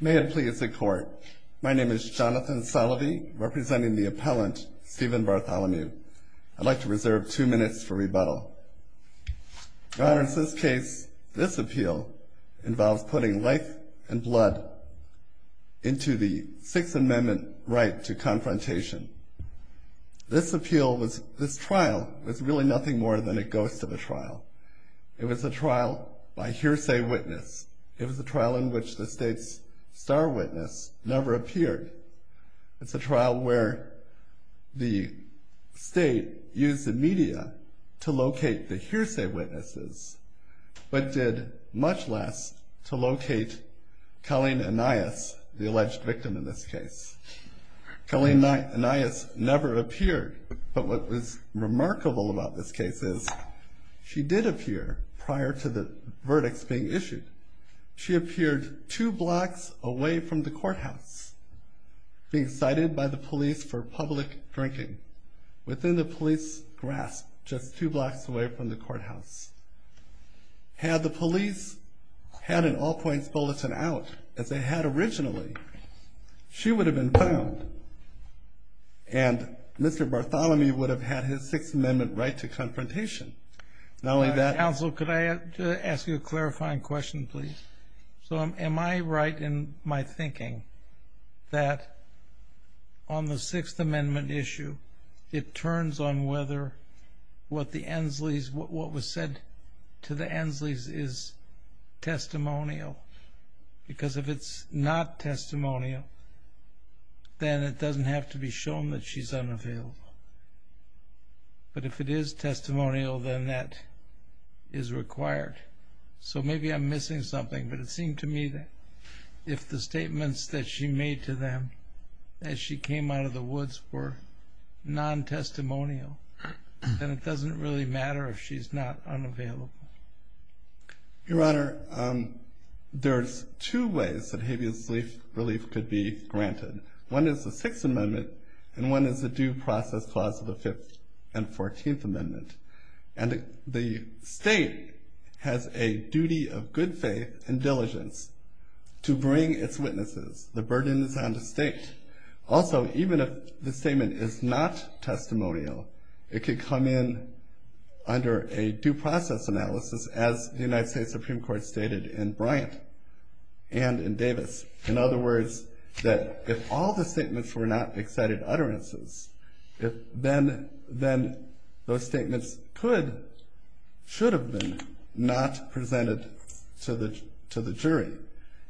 May it please the court. My name is Jonathan Salovey, representing the appellant Stephen Bartholomew. I'd like to reserve two minutes for rebuttal. Your Honor, in this case, this appeal involves putting life and blood into the Sixth Amendment right to confrontation. This appeal was, this trial, was really nothing more than a ghost of a trial. It was a trial by hearsay witness. It was a trial where the state's star witness never appeared. It's a trial where the state used the media to locate the hearsay witnesses, but did much less to locate Colleen Anias, the alleged victim in this case. Colleen Anias never appeared, but what was remarkable about this case is she did appear prior to the verdicts being issued. She appeared two blocks away from the courthouse, being cited by the police for public drinking. Within the police grasp, just two blocks away from the courthouse. Had the police had an all-points bulletin out, as they had originally, she would have been found and Mr. Bartholomew would have had his Sixth Amendment right to confrontation. Not only that... Counsel, could I ask you a question, please? So, am I right in my thinking that on the Sixth Amendment issue, it turns on whether what the Ensley's, what was said to the Ensley's is testimonial? Because if it's not testimonial, then it doesn't have to be shown that she's unavailable. But if it is testimonial, then that is required. So, maybe I'm missing something, but it seemed to me that if the statements that she made to them as she came out of the woods were non-testimonial, then it doesn't really matter if she's not unavailable. Your Honor, there's two ways that habeas relief could be granted. One is the Sixth Amendment and one is the duty of good faith and diligence to bring its witnesses. The burden is on the state. Also, even if the statement is not testimonial, it could come in under a due process analysis as the United States Supreme Court stated in Bryant and in Davis. In other words, that if all the statements were not excited utterances, then those statements could, should have been not presented to the jury.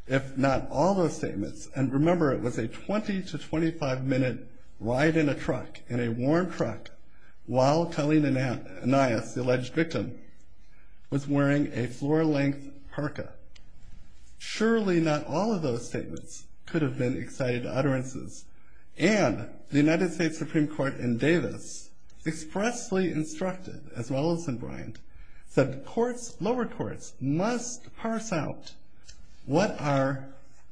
If not all those statements, and remember it was a 20 to 25 minute ride in a truck, in a warm truck, while Talena Anias, the alleged victim, was wearing a floor-length parka. Surely not all of those statements could have been excited utterances. And the United States Supreme Court in Davis expressly instructed, as well as in Bryant, that courts, lower courts, must parse out what are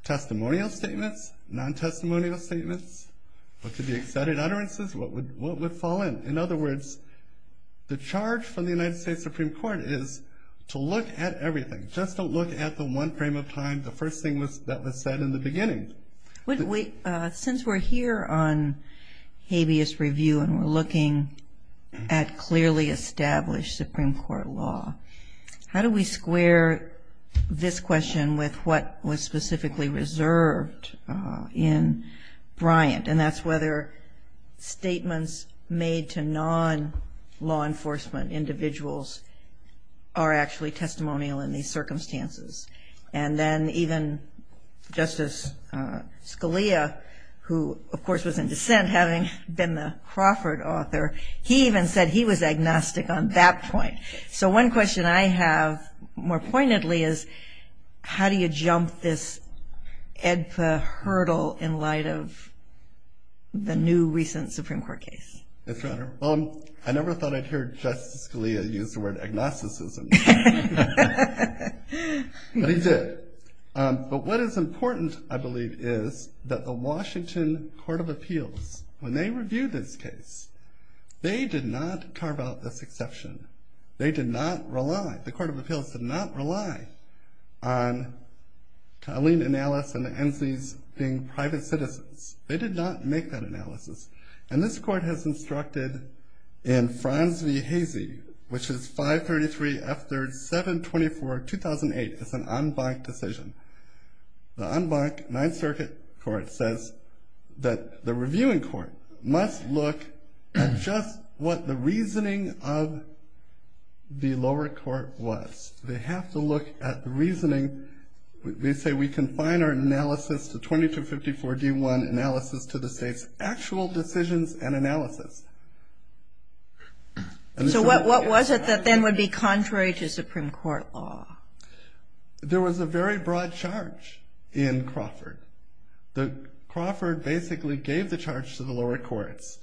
testimonial statements, non-testimonial statements, what could be excited utterances, what would, what would fall in. In other words, the charge from the United States Supreme Court is to look at everything. Just don't look at the one frame of time, the first thing that was said in the beginning. Since we're here on habeas review and we're looking at clearly established Supreme Court law, how do we square this question with what was specifically reserved in Bryant? And that's whether statements made to non-law enforcement individuals are actually testimonial in these circumstances. And then even Justice Scalia, who of course was in dissent, having been the Crawford author, he even said he was agnostic on that point. So one question I have more pointedly is, how do you jump this AEDPA hurdle in light of the new recent Supreme Court case? Yes, Your Honor. I never thought I'd hear Justice Scalia use the word agnosticism. But he did. But what is important, I believe, is that the Washington Court of Appeals, when they reviewed this case, they did not carve out this exception. They did not rely, the Court of Appeals did not rely on Eileen and Alice and the Enzis being private citizens. They did not make that decision. It was constructed in Franz V. Heise, which is 533 F. 3rd, 724, 2008. It's an en banc decision. The en banc Ninth Circuit Court says that the reviewing court must look at just what the reasoning of the lower court was. They have to look at the reasoning. They say we confine our analysis to 2254 D1, analysis to the state's actual decisions and analysis. So what was it that then would be contrary to Supreme Court law? There was a very broad charge in Crawford. The Crawford basically gave the charge to the lower courts.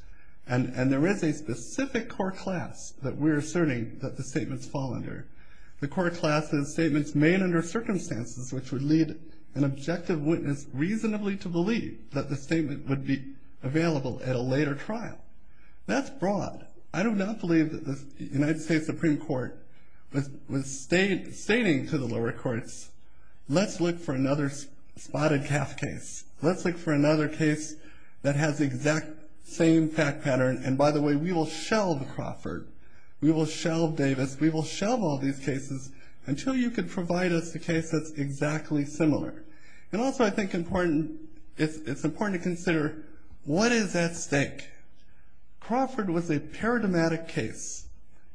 And there is a specific core class that we're asserting that the statements fall under. The core class is statements made under circumstances which would lead an objective witness reasonably to believe that the statement would be available at a later trial. That's broad. I do not believe that the United States Supreme Court was stating to the lower courts, let's look for another spotted calf case. Let's look for another case that has the exact same fact pattern. And by the way, we will shelve Crawford. We will shelve Davis. We will shelve all these cases until you could provide us a case that's important to consider what is at stake. Crawford was a paradigmatic case.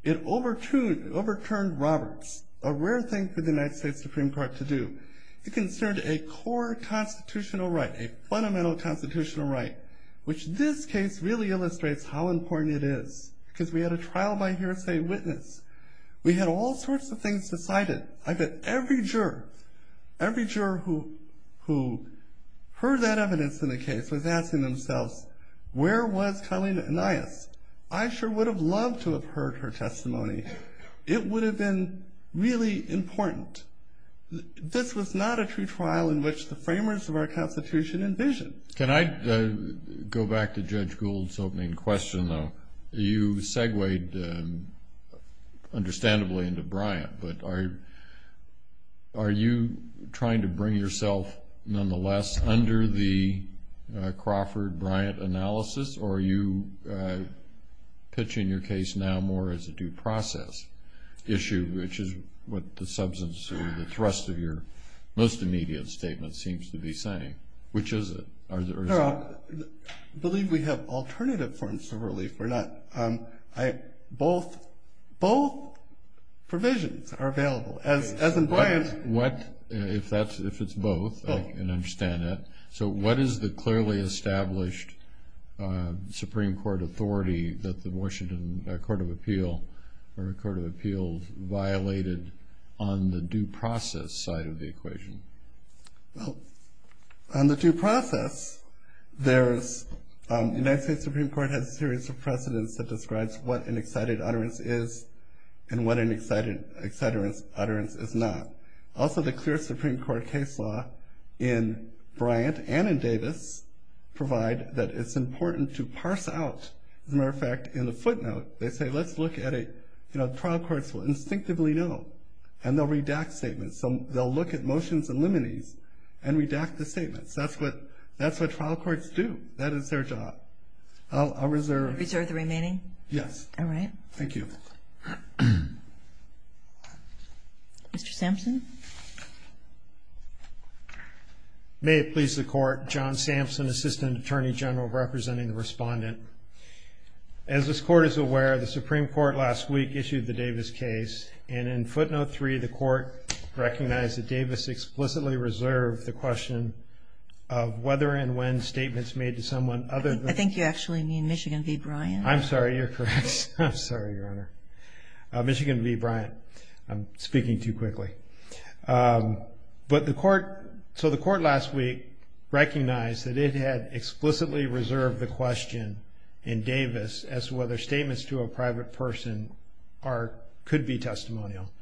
It overturned Roberts, a rare thing for the United States Supreme Court to do. It considered a core constitutional right, a fundamental constitutional right, which this case really illustrates how important it is because we had a trial by hearsay witness. We had all sorts of things decided. I bet every juror, every juror who heard that evidence in the case was asking themselves, where was Colleen Anias? I sure would have loved to have heard her testimony. It would have been really important. This was not a true trial in which the framers of our Constitution envisioned. Can I go back to Judge Gould's opening question though? You segued understandably into Bryant, but are you trying to bring yourself nonetheless under the Crawford-Bryant analysis or are you pitching your case now more as a due process issue, which is what the substance or the thrust of your most immediate statement seems to be saying? Which is it? I believe we have alternative forms of relief. Both provisions are available. As in Bryant- What, if it's both, I can understand that. So what is the clearly established Supreme Court authority that the Washington Court of Appeals violated on the due process side of the equation? Well, on the due process, there's- United States Supreme Court has a series of precedents that describes what an excited utterance is and what an excited utterance is not. Also the clear Supreme Court case law in Bryant and in Davis provide that it's important to parse out, as a matter of fact, in the footnote, they say let's look at a, you know, the trial courts will instinctively know and they'll look at motions and liminees and redact the statements. That's what, that's what trial courts do. That is their job. I'll reserve- Reserve the remaining? Yes. All right. Thank you. Mr. Sampson? May it please the court, John Sampson, Assistant Attorney General representing the respondent. As this court is aware, the Supreme Court last week issued the Davis case and in footnote three the court recognized that Davis explicitly reserved the question of whether and when statements made to someone other than- I think you actually mean Michigan v. Bryant. I'm sorry, you're correct. I'm sorry, Your Honor. Michigan v. Bryant. I'm speaking too quickly. But the court- so the court last week recognized that it had explicitly reserved the question in Davis as to whether statements to a private person are- could be Bryant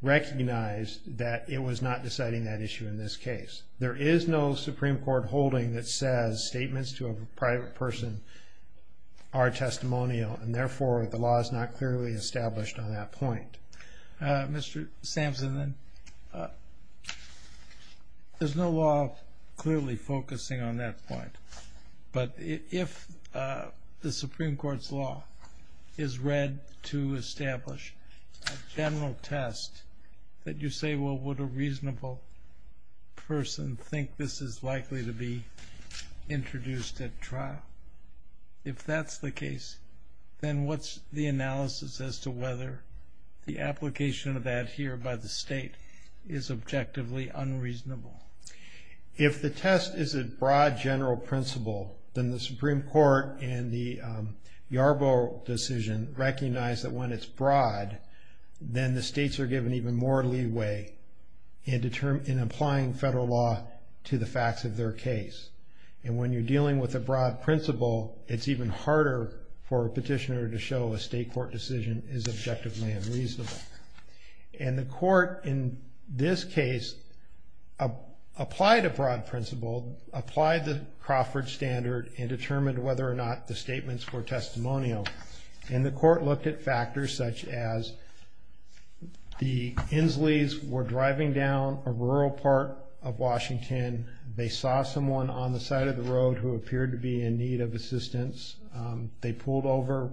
recognized that it was not deciding that issue in this case. There is no Supreme Court holding that says statements to a private person are testimonial and therefore the law is not clearly established on that point. Mr. Sampson, there's no law clearly focusing on that point, but if the Supreme Court's law is read to establish a general test that you say, well, would a reasonable person think this is likely to be introduced at trial? If that's the case, then what's the analysis as to whether the application of that here by the state is objectively unreasonable? If the test is a broad general principle, then the Supreme Court and the Yarbrough decision recognize that when it's broad, then the states are given even more leeway in applying federal law to the facts of their case. And when you're dealing with a broad principle, it's even harder for a petitioner to show a state court decision is objectively unreasonable. And the court in this case applied a broad principle, applied the Supreme Court, and determined whether or not the statements were testimonial. And the court looked at factors such as the Insleys were driving down a rural part of Washington. They saw someone on the side of the road who appeared to be in need of assistance. They pulled over.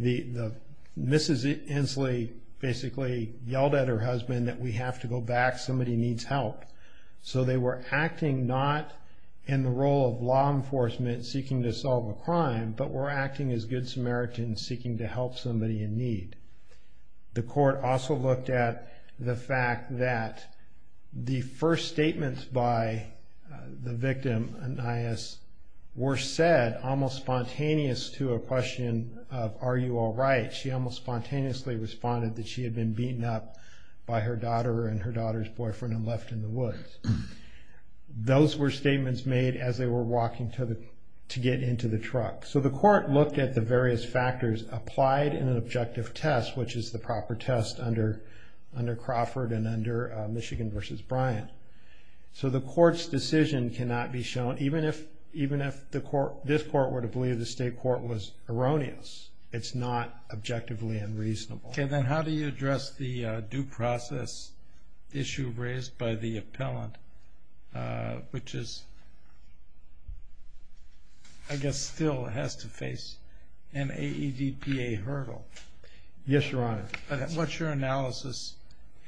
Mrs. Insley basically yelled at her husband that we have to go back. Somebody needs help. So they were acting not in the role of law enforcement seeking to solve a crime, but were acting as good Samaritans seeking to help somebody in need. The court also looked at the fact that the first statements by the victim, Anias, were said almost spontaneous to a question of are you all right. She almost spontaneously responded that she had been beaten up by her daughter and her daughter's boyfriend and left in the as they were walking to get into the truck. So the court looked at the various factors applied in an objective test, which is the proper test under Crawford and under Michigan v. Bryant. So the court's decision cannot be shown, even if this court were to believe the state court was erroneous. It's not objectively unreasonable. Okay. Then how do you address the due process issue raised by the appellant, which is, I guess, still has to face an AEDPA hurdle? Yes, Your Honor. What's your analysis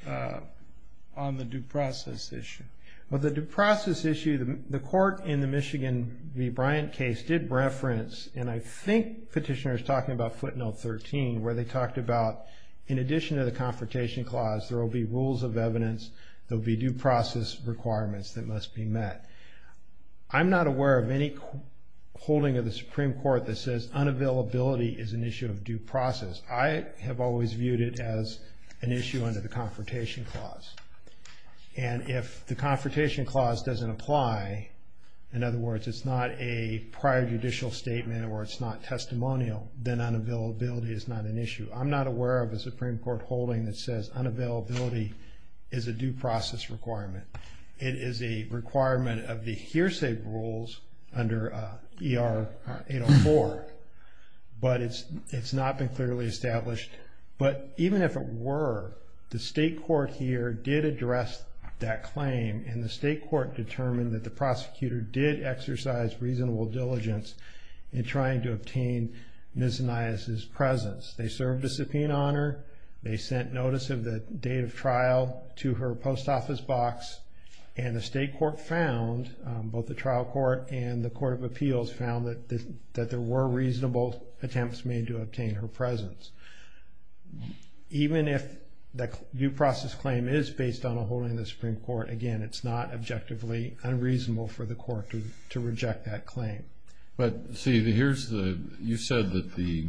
on the due process issue? Well, the due process issue, the court in the Michigan v. Bryant case did reference, and I think petitioner is talking about footnote 13, where they talked about in addition to the Confrontation Clause, there will be rules of evidence, there will be due process requirements that must be met. I'm not aware of any holding of the Supreme Court that says unavailability is an issue of due process. I have always viewed it as an issue under the Confrontation Clause. And if the Confrontation Clause doesn't apply, in other words, it's not a prior judicial statement or it's not testimonial, then unavailability is not an issue. I'm not aware of a Supreme Court holding that says unavailability is a due process requirement. It is a requirement of the hearsay rules under ER 804, but it's not been clearly established. But even if it were, the state court here did address that claim, and the state court determined that the prosecutor did exercise reasonable diligence in trying to obtain Ms. Anias' presence. They served a subpoena on her. They sent notice of the date of trial to her post office box. And the state court found, both the trial court and the Court of Appeals, found that there were reasonable attempts made to obtain her presence. Even if the due process claim is based on a holding of the Supreme Court, again, it's not objectively unreasonable for the court to reject that claim. But see, you said that the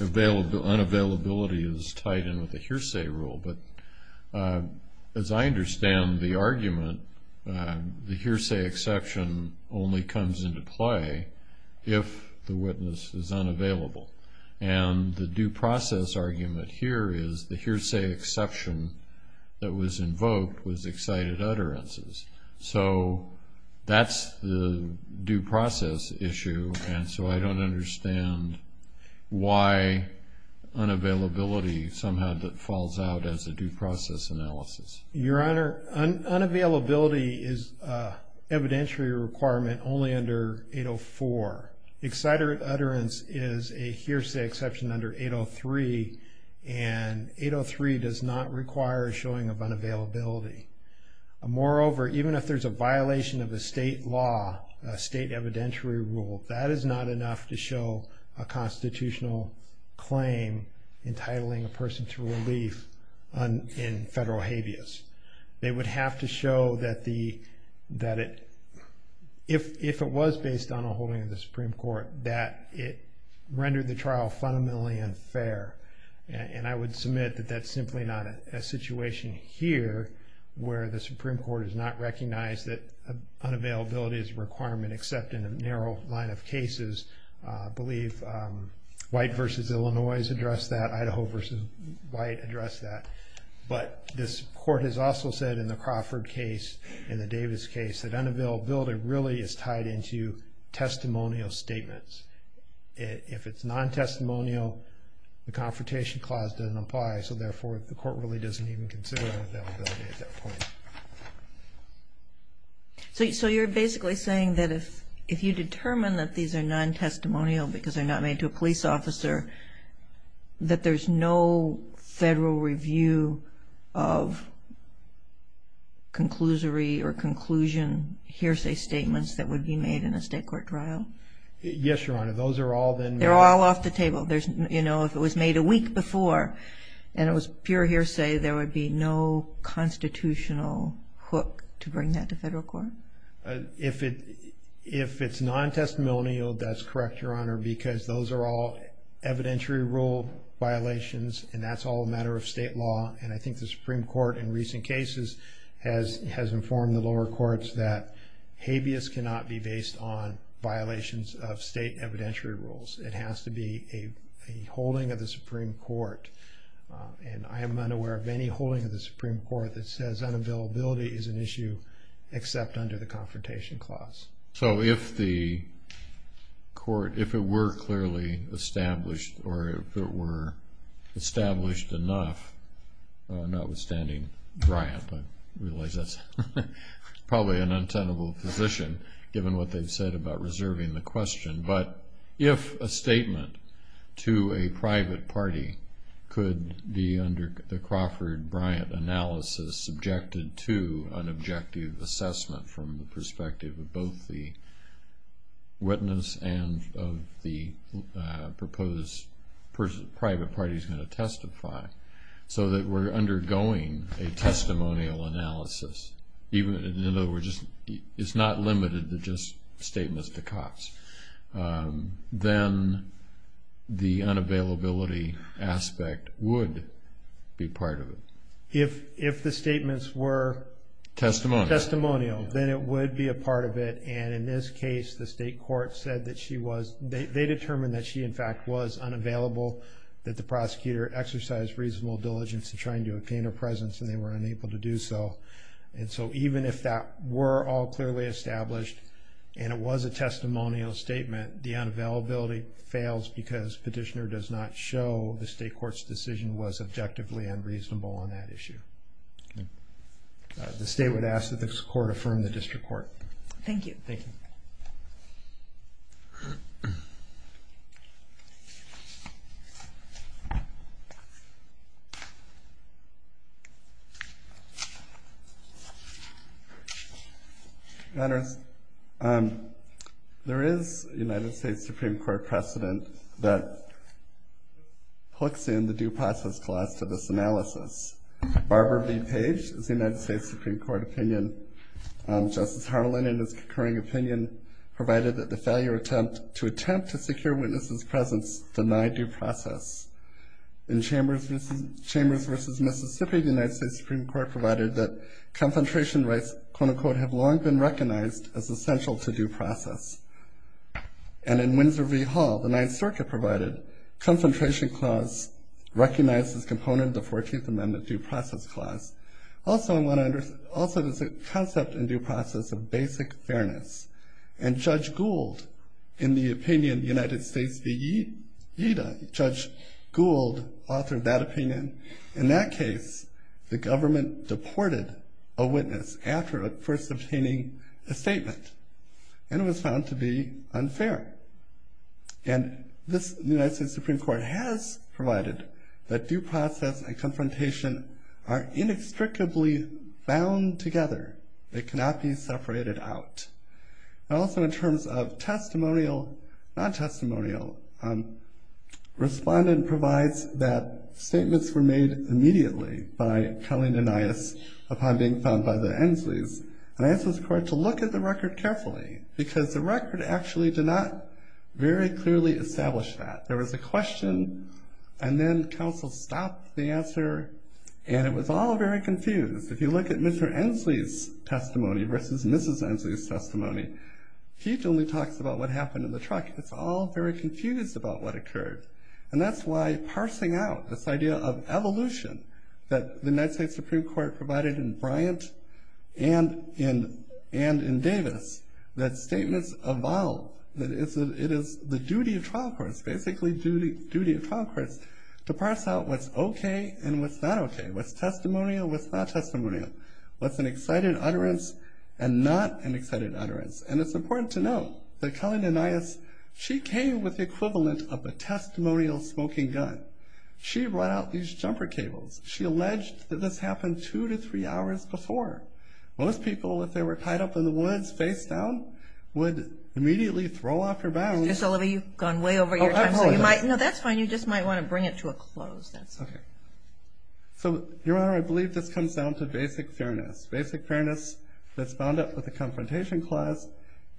unavailability is tied in with the hearsay rule, but as I understand the argument, the hearsay exception only comes into play if the witness is unavailable. And the due process argument here is the hearsay exception that was invoked was excited utterances. So that's the due process issue, and so I don't understand why unavailability somehow falls out as a due process analysis. Your Honor, unavailability is evidentially a requirement only under 804. Excited utterance is a hearsay exception under 803, and 803 does not require a showing of unavailability. Moreover, even if there's a violation of a state law, a state evidentiary rule, that is not enough to show a constitutional claim entitling a person to relief in federal habeas. They would have to show that if it was based on a holding of the Supreme Court, that it rendered the trial fundamentally unfair. And I would submit that that's simply not a situation here where the Supreme Court has not recognized that unavailability is a requirement except in a narrow line of cases. I believe White v. Illinois has addressed that. Idaho v. White addressed that. But this court has also said in the past that it's tied into testimonial statements. If it's non-testimonial, the Confrontation Clause doesn't apply, so therefore the court really doesn't even consider unavailability at that point. So you're basically saying that if you determine that these are non-testimonial because they're not made to a police officer, that there's no federal review of conclusory or conclusion hearsay statements that would be made in a state court trial? Yes, Your Honor. Those are all then made... They're all off the table. If it was made a week before and it was pure hearsay, there would be no constitutional hook to bring that to federal court? If it's non-testimonial, that's correct, Your Honor, because those are all non-testimonial. And I think the Supreme Court in recent cases has informed the lower courts that habeas cannot be based on violations of state evidentiary rules. It has to be a holding of the Supreme Court. And I am unaware of any holding of the Supreme Court that says unavailability is an issue except under the Confrontation Clause. So if the court, if it were clearly established or if it were established enough, notwithstanding Bryant, I realize that's probably an untenable position given what they've said about reserving the question, but if a statement to a private party could be under the Crawford-Bryant analysis subjected to an analysis of the witness and of the proposed private party's going to testify, so that we're undergoing a testimonial analysis, even in other words, it's not limited to just statements to Cox, then the unavailability aspect would be part of it. If the statements were testimonial, then it would be a part of it. And in this case, the state court said that she was, they determined that she, in fact, was unavailable, that the prosecutor exercised reasonable diligence in trying to obtain her presence and they were unable to do so. And so even if that were all clearly established and it was a testimonial statement, the unavailability fails because petitioner does not show the state court's decision was objectively and reasonable on that issue. The state would ask that this court affirm the district court. Thank you. Thank you. Your Honors, there is a United States Supreme Court precedent that hooks in the due process clause to this analysis. Barbara B. Page is the United States Supreme Court opinion. Justice Harlan, in his concurring opinion, provided that the failure attempt to secure witnesses' presence denied due process. In Chambers v. Mississippi, the United States Supreme Court provided that concentration rights, quote unquote, have long been recognized as essential to due process. And in Windsor v. Hall, the Ninth Circuit provided, concentration clause recognizes component of the 14th Amendment due process clause. Also, there's a concept in due process of basic fairness. And Judge Gould, in the opinion of the United States v. Yeada, Judge Gould authored that opinion. In that case, the government deported a witness after first obtaining a statement. And it was found to be unfair. And the United States Supreme Court has provided that due process and Also, in terms of testimonial, non-testimonial, respondent provides that statements were made immediately by Kelly and Anias upon being found by the Ensleys. And I asked this court to look at the record carefully, because the record actually did not very clearly establish that. There was a question, and then counsel stopped the answer, and it was all very confused. If you look at Mr. Ensley's testimony versus Mrs. Ensley's testimony, he only talks about what happened in the truck. It's all very confused about what occurred. And that's why parsing out this idea of evolution that the United States Supreme Court provided in Bryant and in Davis, that statements evolve. That it is the duty of trial courts, basically duty of trial courts, to parse out what's okay and what's not okay. What's testimonial, what's not testimonial. What's an excited utterance and not an excited utterance. And it's important to note that Kelly Anias, she came with the equivalent of a testimonial smoking gun. She brought out these jumper cables. She alleged that this happened two to three hours before. Most people, if they were tied up in the woods, face down, would immediately throw off their bounds. Mr. Sullivan, you've gone way over your time, so you might, no, that's fine. You just might want to bring it to a close. That's okay. So, Your Honor, I believe this comes down to basic fairness. Basic fairness that's bound up with the confrontation clause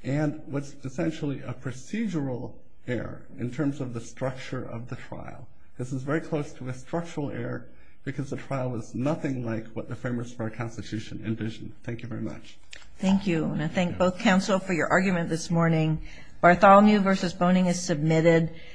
and what's essentially a procedural error in terms of the structure of the trial. This is very close to a structural error because the trial was nothing like what the framers for our Constitution envisioned. Thank you very much. Thank you. And I thank both counsel for your argument this morning. Bartholomew versus Boning is submitted.